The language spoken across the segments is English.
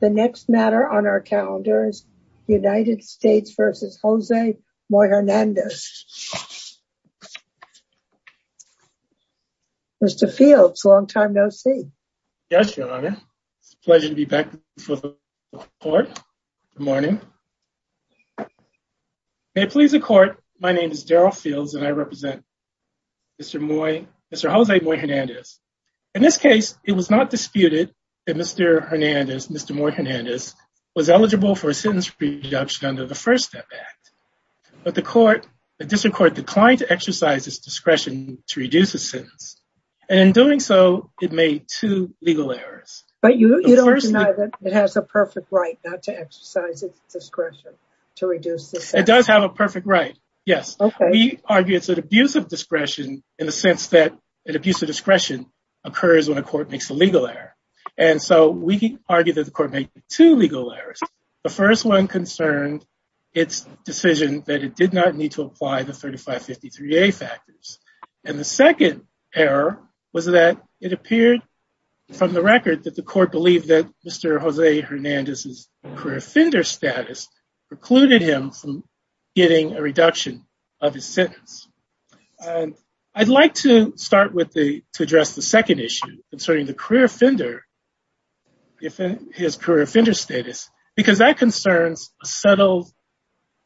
The next matter on our calendar is United States v. Jose Moyhernandez. Mr. Fields, long time no see. Yes, Your Honor. It's a pleasure to be back before the Court. Good morning. May it please the Court, my name is Daryl Fields and I represent Mr. Jose Moyhernandez. In this case, it was not disputed that Mr. Moyhernandez was eligible for a sentence reduction under the First Step Act. But the District Court declined to exercise its discretion to reduce the sentence. And in doing so, it made two legal errors. But you don't deny that it has a perfect right not to exercise its discretion to reduce the sentence? It does have a perfect right, yes. We argue it's an abuse of discretion in the sense that an abuse of discretion occurs when a court makes a legal error. And so we argue that the court made two legal errors. The first one concerned its decision that it did not need to apply the 3553A factors. And the second error was that it appeared from the record that the court believed that Mr. Jose Hernandez's career offender status precluded him from getting a reduction of his sentence. I'd like to start with the to address the second issue concerning the career offender. If his career offender status, because that concerns a settled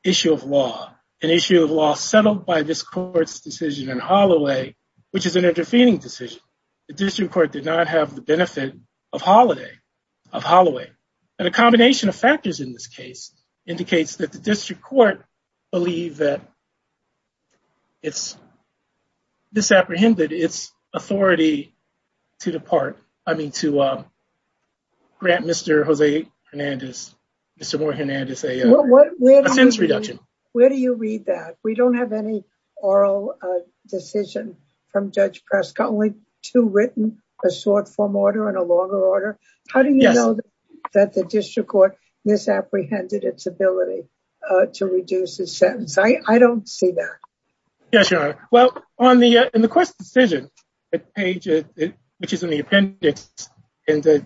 issue of law, an issue of law settled by this court's decision in Holloway, which is an interfering decision, the district court did not have the benefit of holiday of Holloway. And a combination of factors in this case indicates that the district court believe that. It's. Disapprehended its authority to the part, I mean, to grant Mr. Jose Hernandez, Mr. Hernandez, a sentence reduction. Where do you read that? We don't have any oral decision from Judge Prescott, only two written, a short form order and a longer order. How do you know that the district court misapprehended its ability to reduce the sentence? I don't see that. Yes, you are. Well, on the in the court's decision page, which is in the appendix and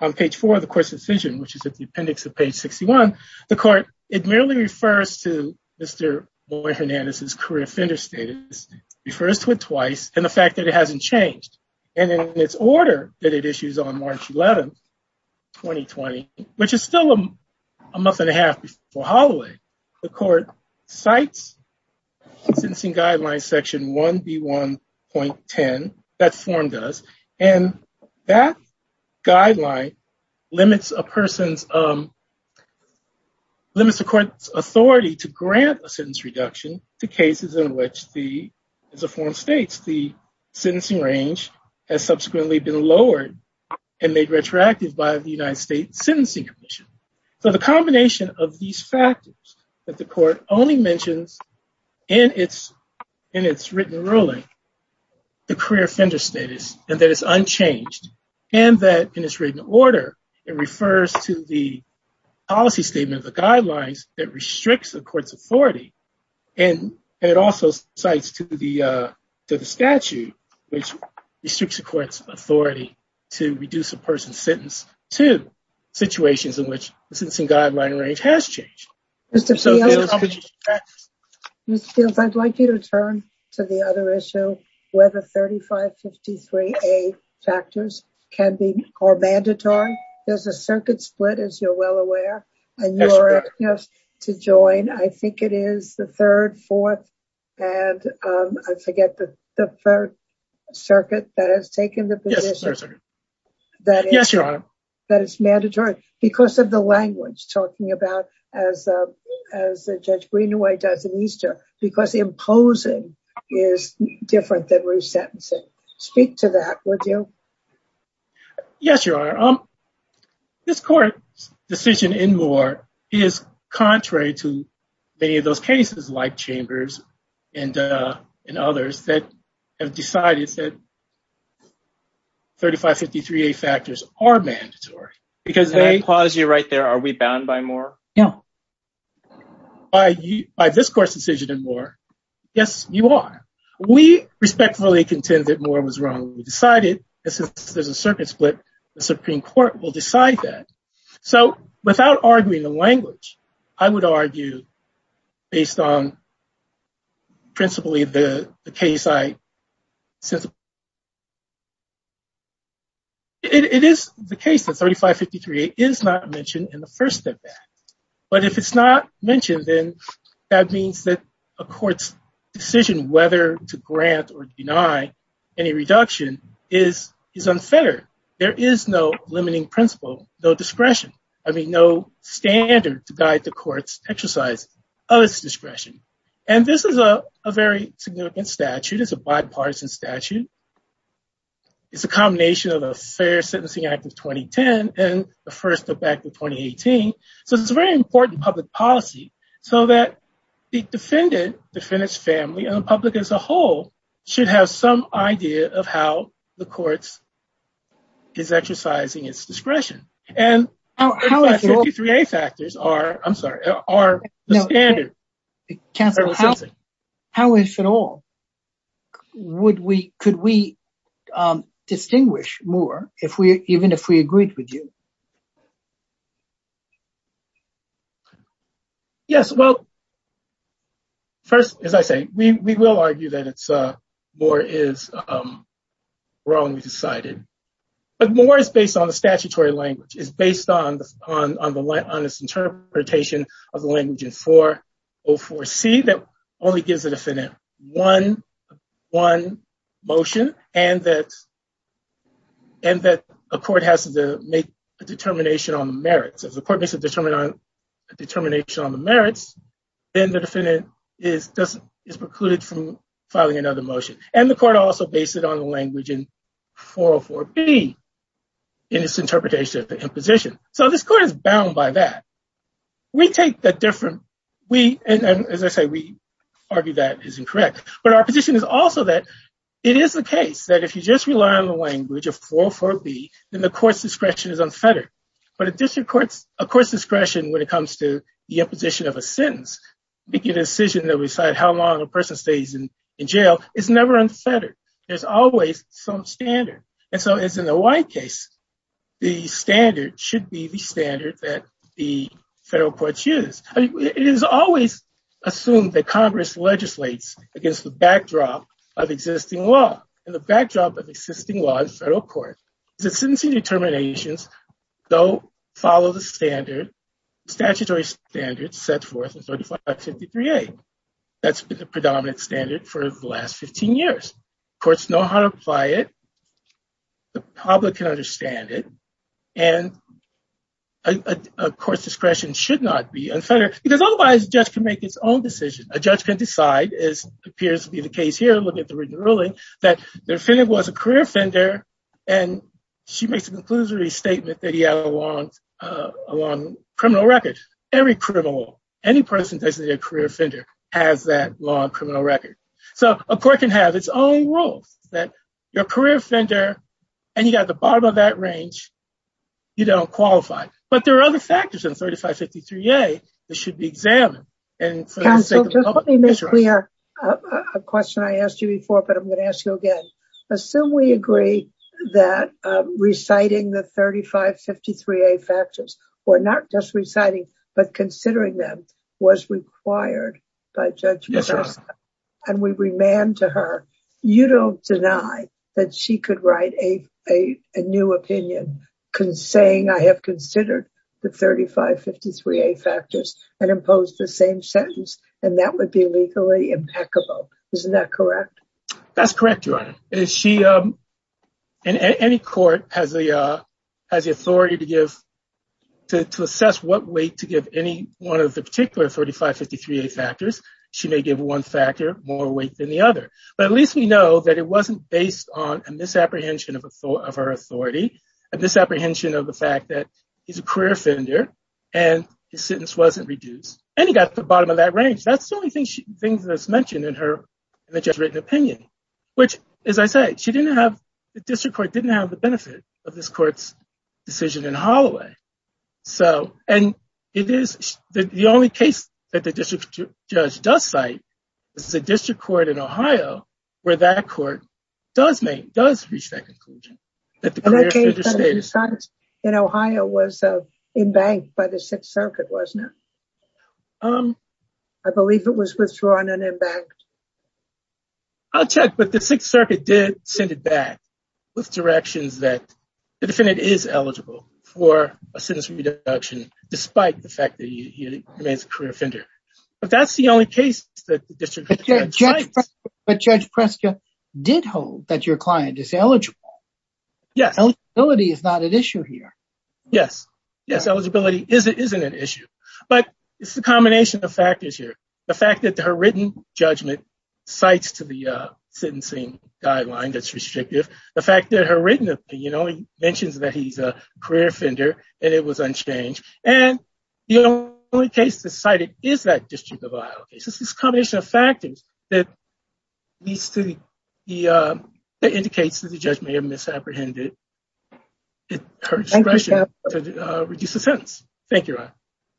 on page four of the court's decision, which is at the appendix of page 61, the court it merely refers to Mr. Boyd Hernandez's career offender status refers to it twice. And the fact that it hasn't changed and in its order that it issues on March 11th, 2020, which is still a month and a half before Holloway, the court cites sentencing guidelines, Section 1B1.10. That form does. And that guideline limits a person's limits the court's authority to grant a sentence reduction to cases in which the form states the sentencing range has subsequently been lowered and made retroactive by the United States Sentencing Commission. So the combination of these factors that the court only mentions in its in its written ruling, the career offender status and that is unchanged and that in its written order, it refers to the policy statement of the guidelines that restricts the court's authority. And it also cites to the statute which restricts the court's authority to reduce a person's sentence to situations in which the sentencing guideline range has changed. Mr. Fields, I'd like you to turn to the other issue, whether 3553A factors can be mandatory. There's a circuit split, as you're well aware, to join. I think it is the third, fourth and I forget the third circuit that has taken the position. Yes, Your Honor. That it's mandatory because of the language talking about as Judge Greenaway does in Easter, because imposing is different than resentencing. Speak to that, would you? Yes, Your Honor. This court's decision in Moore is contrary to many of those cases like Chambers and in others that have decided that. 3553A factors are mandatory because they... Can I pause you right there? Are we bound by Moore? By this court's decision in Moore, yes, you are. We respectfully contend that Moore was wrong. We decided there's a circuit split. The Supreme Court will decide that. So without arguing the language, I would argue based on principally the case I... It is the case that 3553A is not mentioned in the first step back. But if it's not mentioned, then that means that a court's decision whether to grant or deny any reduction is unfair. There is no limiting principle, no discretion, I mean, no standard to guide the court's exercise of its discretion. And this is a very significant statute. It's a bipartisan statute. It's a combination of the Fair Sentencing Act of 2010 and the first step back to 2018. So it's a very important public policy so that the defendant, defendant's family and the public as a whole should have some idea of how the courts is exercising its discretion. And 3553A factors are, I'm sorry, are the standard. Counselor, how is it all? Could we distinguish Moore even if we agreed with you? Yes, well, first, as I say, we will argue that Moore is wrong. But Moore is based on the statutory language, is based on this interpretation of the language in 404C that only gives the defendant one motion and that a court has to make a determination on the merits. Then the defendant is precluded from filing another motion. And the court also based it on the language in 404B in its interpretation of the imposition. So this court is bound by that. We take the different we and as I say, we argue that is incorrect. But our position is also that it is the case that if you just rely on the language of 404B, then the court's discretion is unfettered. But a district court's discretion when it comes to the imposition of a sentence, making a decision that we decide how long a person stays in jail is never unfettered. There's always some standard. And so as in the White case, the standard should be the standard that the federal courts use. It is always assumed that Congress legislates against the backdrop of existing law and the backdrop of existing law in federal court. The sentencing determinations, though, follow the standard, statutory standards set forth in 4553A. That's been the predominant standard for the last 15 years. Courts know how to apply it. The public can understand it. And a court's discretion should not be unfettered because otherwise a judge can make its own decision. A judge can decide, as appears to be the case here, looking at the written ruling, that the offender was a career offender. And she makes a conclusory statement that he had a long criminal record. Every criminal, any person designated a career offender has that long criminal record. So a court can have its own rules that your career offender and you got the bottom of that range, you don't qualify. But there are other factors in 4553A that should be examined. Counsel, just let me make clear a question I asked you before, but I'm going to ask you again. Assume we agree that reciting the 3553A factors, or not just reciting, but considering them, was required by Judge Bacosta. And we remand to her, you don't deny that she could write a new opinion saying, I have considered the 3553A factors and imposed the same sentence. And that would be legally impeccable. Isn't that correct? That's correct, Your Honor. Any court has the authority to assess what weight to give any one of the particular 3553A factors. She may give one factor more weight than the other. But at least we know that it wasn't based on a misapprehension of her authority. A misapprehension of the fact that he's a career offender and his sentence wasn't reduced. And he got the bottom of that range. That's the only thing that's mentioned in her written opinion. Which, as I said, she didn't have the district court didn't have the benefit of this court's decision in Holloway. So and it is the only case that the district judge does cite is the district court in Ohio, where that court does reach that conclusion. That the career offender status in Ohio was embanked by the Sixth Circuit, wasn't it? I believe it was withdrawn and embanked. I'll check. But the Sixth Circuit did send it back with directions that the defendant is eligible for a sentence reduction, despite the fact that he remains a career offender. But that's the only case that the district judge did hold that your client is eligible. Yes. Eligibility is not an issue here. Yes. Yes. Eligibility isn't an issue. But it's the combination of factors here. The fact that her written judgment cites to the sentencing guideline that's restrictive. The fact that her written, you know, he mentions that he's a career offender and it was unchanged. And the only case decided is that district of Ohio. This combination of factors that leads to the indicates that the judge may have misapprehended her discretion to reduce the sentence. Thank you.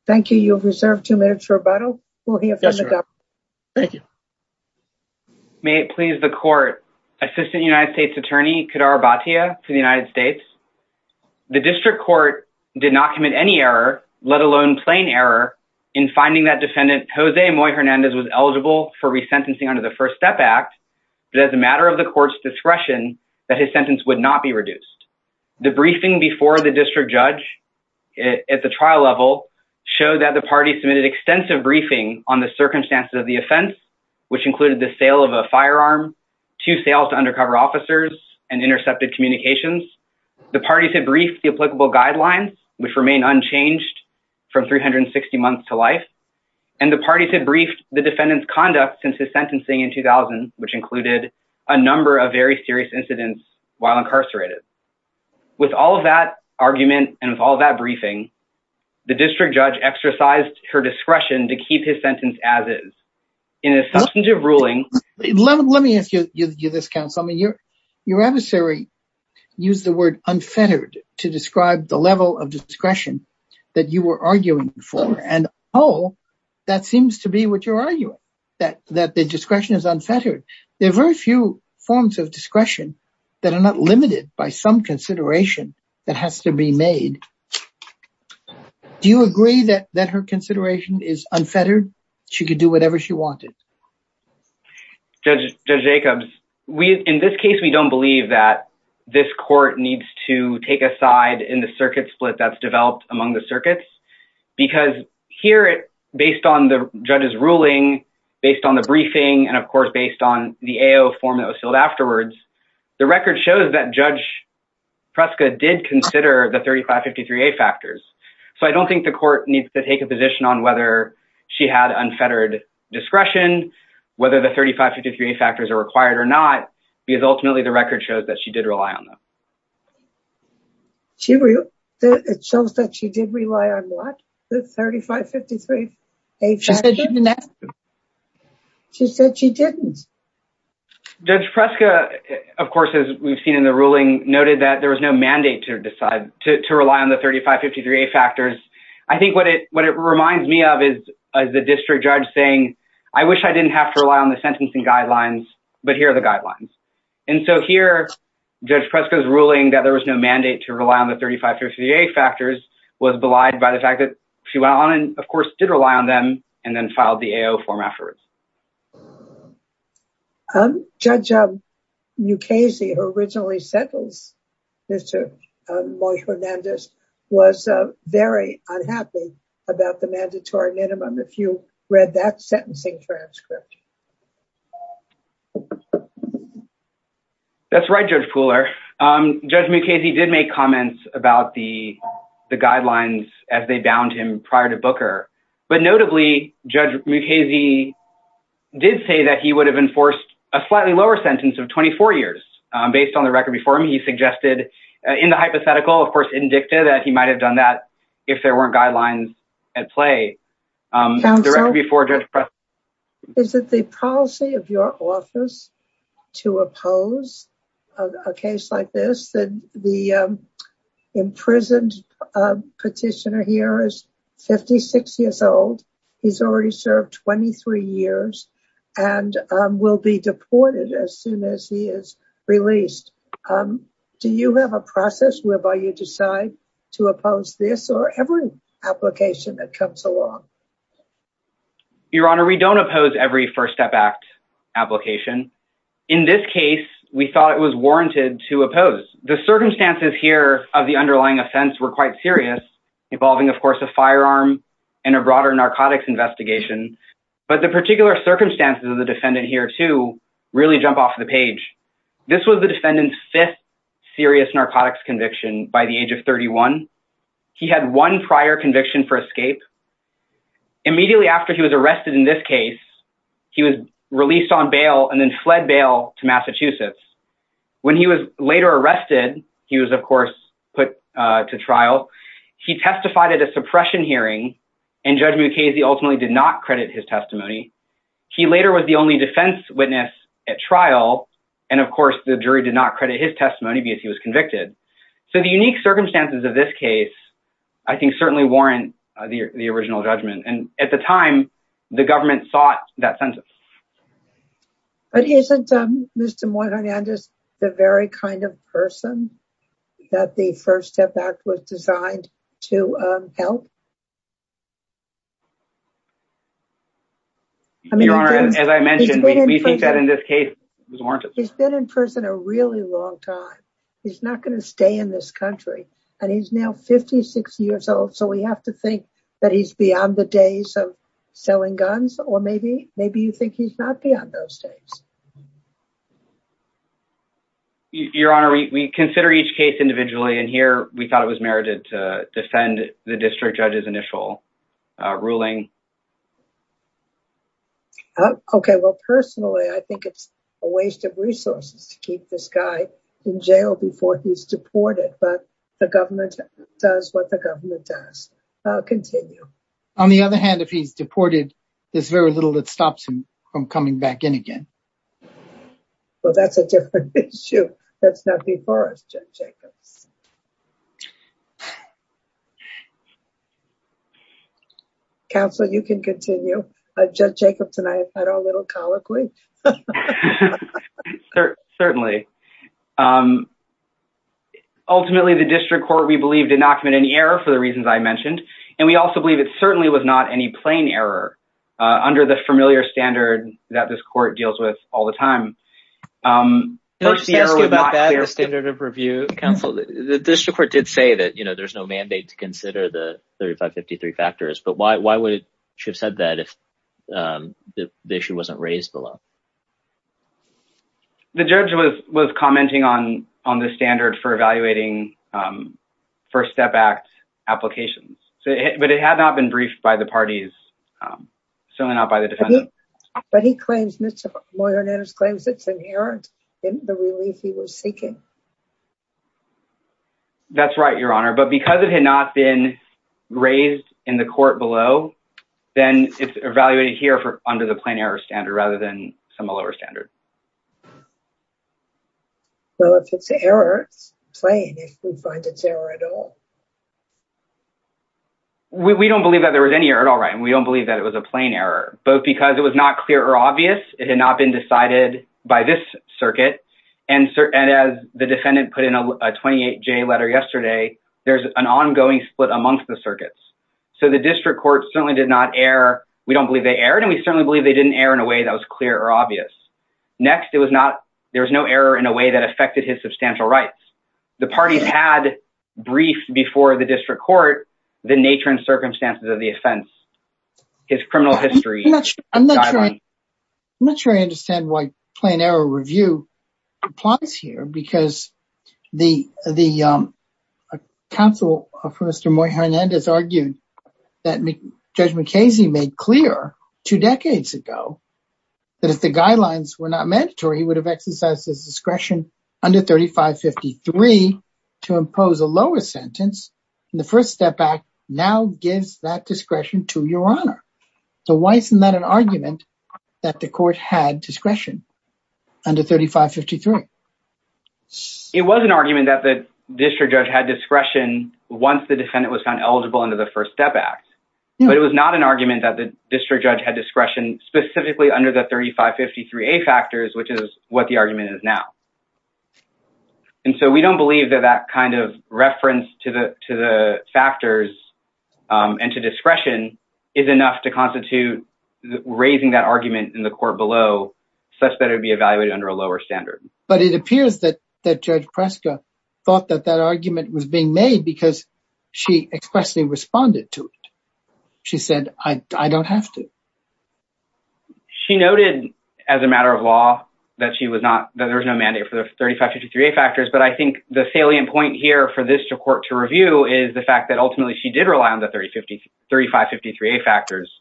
Thank you. You have reserved two minutes for rebuttal. Thank you. May it please the court. Assistant United States Attorney Kadar Bhatia to the United States. The district court did not commit any error, let alone plain error in finding that defendant, Jose Hernandez, was eligible for resentencing under the First Step Act. It is a matter of the court's discretion that his sentence would not be reduced. The briefing before the district judge at the trial level showed that the party submitted extensive briefing on the circumstances of the offense, which included the sale of a firearm to sales to undercover officers and intercepted communications. The parties had briefed the applicable guidelines, which remain unchanged from 360 months to life. And the parties had briefed the defendant's conduct since his sentencing in 2000, which included a number of very serious incidents while incarcerated. With all of that argument and with all that briefing, the district judge exercised her discretion to keep his sentence as is. In a substantive ruling. Let me ask you this, counsel. I mean, your adversary used the word unfettered to describe the level of discretion that you were arguing for. And oh, that seems to be what you're arguing, that that the discretion is unfettered. There are very few forms of discretion that are not limited by some consideration that has to be made. Do you agree that that her consideration is unfettered? She could do whatever she wanted. Judge Jacobs, we in this case, we don't believe that this court needs to take a side in the circuit split that's developed among the circuits because here it based on the judge's ruling, based on the briefing and, of course, based on the form that was filled afterwards. The record shows that Judge Prescott did consider the 3553A factors. So I don't think the court needs to take a position on whether she had unfettered discretion, whether the 3553A factors are required or not, because ultimately the record shows that she did rely on them. It shows that she did rely on what? The 3553A factors? She said she didn't. She said she didn't. Judge Prescott, of course, as we've seen in the ruling, noted that there was no mandate to decide, to rely on the 3553A factors. I think what it reminds me of is the district judge saying, I wish I didn't have to rely on the sentencing guidelines, but here are the guidelines. And so here, Judge Prescott's ruling that there was no mandate to rely on the 3553A factors was belied by the fact that she went on and, of course, did rely on them and then filed the AO form afterwards. Judge Mukasey, who originally sentenced Mr. Moy Hernandez, was very unhappy about the mandatory minimum. If you read that sentencing transcript. That's right, Judge Pooler. Judge Mukasey did make comments about the guidelines as they bound him prior to Booker. But notably, Judge Mukasey did say that he would have enforced a slightly lower sentence of 24 years based on the record before him. He suggested in the hypothetical, of course, indicted that he might have done that if there weren't guidelines at play. Is it the policy of your office to oppose a case like this? The imprisoned petitioner here is 56 years old. He's already served 23 years and will be deported as soon as he is released. Do you have a process whereby you decide to oppose this or every application that comes along? Your Honor, we don't oppose every First Step Act application. In this case, we thought it was warranted to oppose. The circumstances here of the underlying offense were quite serious, involving, of course, a firearm and a broader narcotics investigation. But the particular circumstances of the defendant here to really jump off the page. This was the defendant's fifth serious narcotics conviction by the age of 31. He had one prior conviction for escape. Immediately after he was arrested in this case, he was released on bail and then fled bail to Massachusetts. When he was later arrested, he was, of course, put to trial. He testified at a suppression hearing and Judge Mukasey ultimately did not credit his testimony. He later was the only defense witness at trial. And of course, the jury did not credit his testimony because he was convicted. So the unique circumstances of this case, I think, certainly warrant the original judgment. And at the time, the government sought that sentence. But isn't Mr. Hernandez the very kind of person that the First Step Act was designed to help? Your Honor, as I mentioned, we think that in this case, it was warranted. He's been in prison a really long time. He's not going to stay in this country. And he's now 56 years old. So we have to think that he's beyond the days of selling guns. Or maybe maybe you think he's not beyond those days. Your Honor, we consider each case individually and here we thought it was merited to defend the district judge's initial ruling. OK, well, personally, I think it's a waste of resources to keep this guy in jail before he's deported. But the government does what the government does. I'll continue. On the other hand, if he's deported, there's very little that stops him from coming back in again. Well, that's a different issue. That's not before us, Judge Jacobs. Counselor, you can continue. Judge Jacobs and I had our little colloquy. Certainly. Ultimately, the district court, we believe, did not commit any error for the reasons I mentioned. And we also believe it certainly was not any plain error under the familiar standard that this court deals with all the time. First, the standard of review. Counsel, the district court did say that, you know, there's no mandate to consider the 3553 factors. But why would it should have said that if the issue wasn't raised below? The judge was was commenting on on the standard for evaluating First Step Act applications, but it had not been briefed by the parties, certainly not by the defense. But he claims Mr. Moynihan claims it's inherent in the relief he was seeking. That's right, Your Honor, but because it had not been raised in the court below, then it's evaluated here for under the plain error standard rather than some lower standard. Well, if it's an error, it's plain, if we find it's error at all. We don't believe that there was any error at all. Right. And we don't believe that it was a plain error, both because it was not clear or obvious. It had not been decided by this circuit. And as the defendant put in a 28-J letter yesterday, there's an ongoing split amongst the circuits. So the district court certainly did not err. We don't believe they erred. And we certainly believe they didn't err in a way that was clear or obvious. Next, it was not there was no error in a way that affected his substantial rights. The parties had briefed before the district court the nature and circumstances of the offense. His criminal history. I'm not sure I understand why plain error review applies here, because the counsel for Mr. Moynihan has argued that Judge McKay's made clear two decades ago that if the guidelines were not mandatory, he would have exercised his discretion under 3553 to impose a lower sentence. And the First Step Act now gives that discretion to Your Honor. So why isn't that an argument that the court had discretion under 3553? It was an argument that the district judge had discretion once the defendant was found eligible under the First Step Act. But it was not an argument that the district judge had discretion specifically under the 3553A factors, which is what the argument is now. And so we don't believe that that kind of reference to the to the factors and to discretion is enough to constitute raising that argument in the court below such that it would be evaluated under a lower standard. But it appears that that Judge Preska thought that that argument was being made because she expressly responded to it. She said, I don't have to. She noted as a matter of law that she was not that there was no mandate for the 3553A factors, but I think the salient point here for this court to review is the fact that ultimately she did rely on the 3553A factors.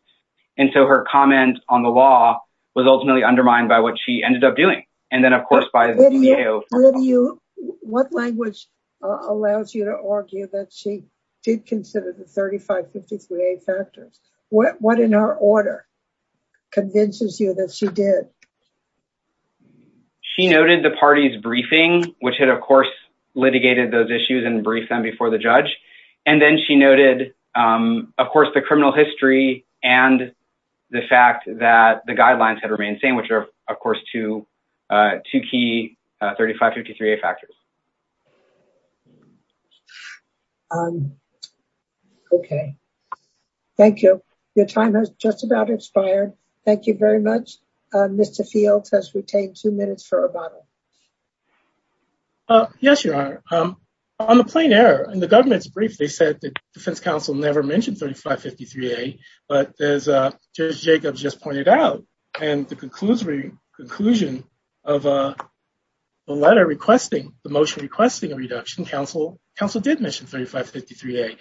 And so her comment on the law was ultimately undermined by what she ended up doing. And then, of course, by the CAO. What language allows you to argue that she did consider the 3553A factors? What in her order? Convinces you that she did. She noted the party's briefing, which had, of course, litigated those issues and briefed them before the judge. And then she noted, of course, the criminal history and the fact that the guidelines had remained same, which are, of course, two key 3553A factors. OK. Thank you. Your time has just about expired. Thank you very much. Mr. Fields has retained two minutes for rebuttal. Yes, Your Honor. On the plain error in the government's brief, they said the defense counsel never mentioned 3553A. But as Judge Jacobs just pointed out, and the conclusion of the letter requesting, the motion requesting a reduction, counsel did mention 3553A.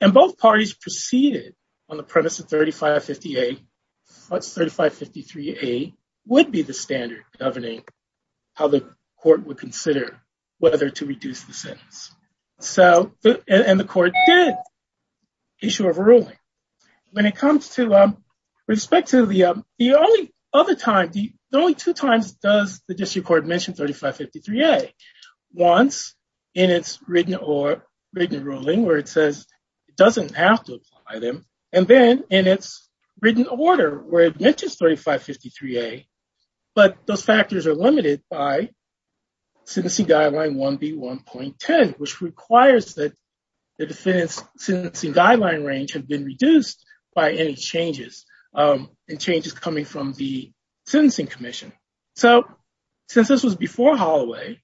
And both parties proceeded on the premise that 3553A would be the standard governing how the court would consider whether to reduce the sentence. And the court did. Issue of ruling. And it comes to respect to the only other time, the only two times does the district court mention 3553A. Once in its written or written ruling where it says it doesn't have to apply them. And then in its written order where it mentions 3553A. But those factors are limited by Sentencing Guideline 1B1.10, which requires that the defendant's sentencing guideline range have been reduced by any changes and changes coming from the Sentencing Commission. So since this was before Holloway,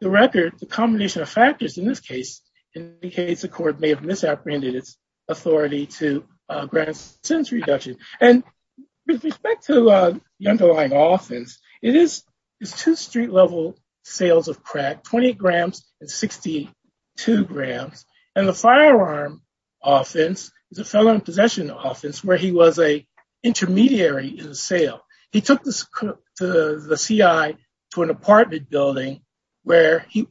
the record, the combination of factors in this case indicates the court may have misapprehended its authority to grant sentence reduction. And with respect to the underlying offense, it is two street level sales of crack, 28 grams and 62 grams. And the firearm offense is a felon in possession offense where he was a intermediary in the sale. He took the C.I. to an apartment building where he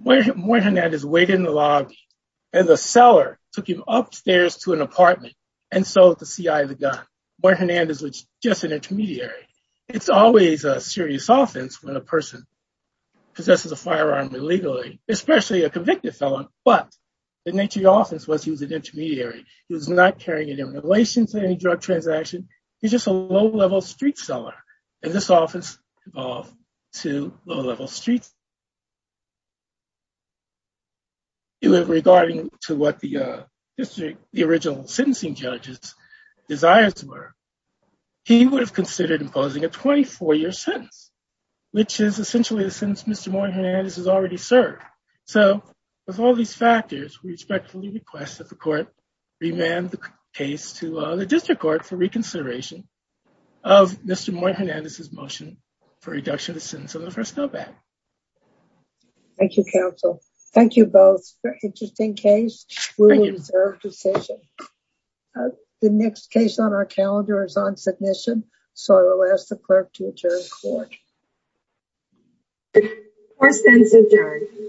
waited in the lobby and the seller took him upstairs to an apartment. And so the C.I. of the gun where Hernandez was just an intermediary. It's always a serious offense when a person possesses a firearm illegally, especially a convicted felon. But the nature of the offense was he was an intermediary. He was not carrying it in relation to any drug transaction. He's just a low level street seller. And this office evolved to low level streets. It was regarding to what the history, the original sentencing judges desires were. He would have considered imposing a 24 year sentence, which is essentially the sentence Mr. So with all these factors, we expect to request that the court demand the case to the district court for reconsideration of Mr. More Hernandez's motion for reduction of the sentence of the first go back. Thank you, counsel. Thank you both. Interesting case. The next case on our calendar is on submission. So I will ask the clerk to adjourn.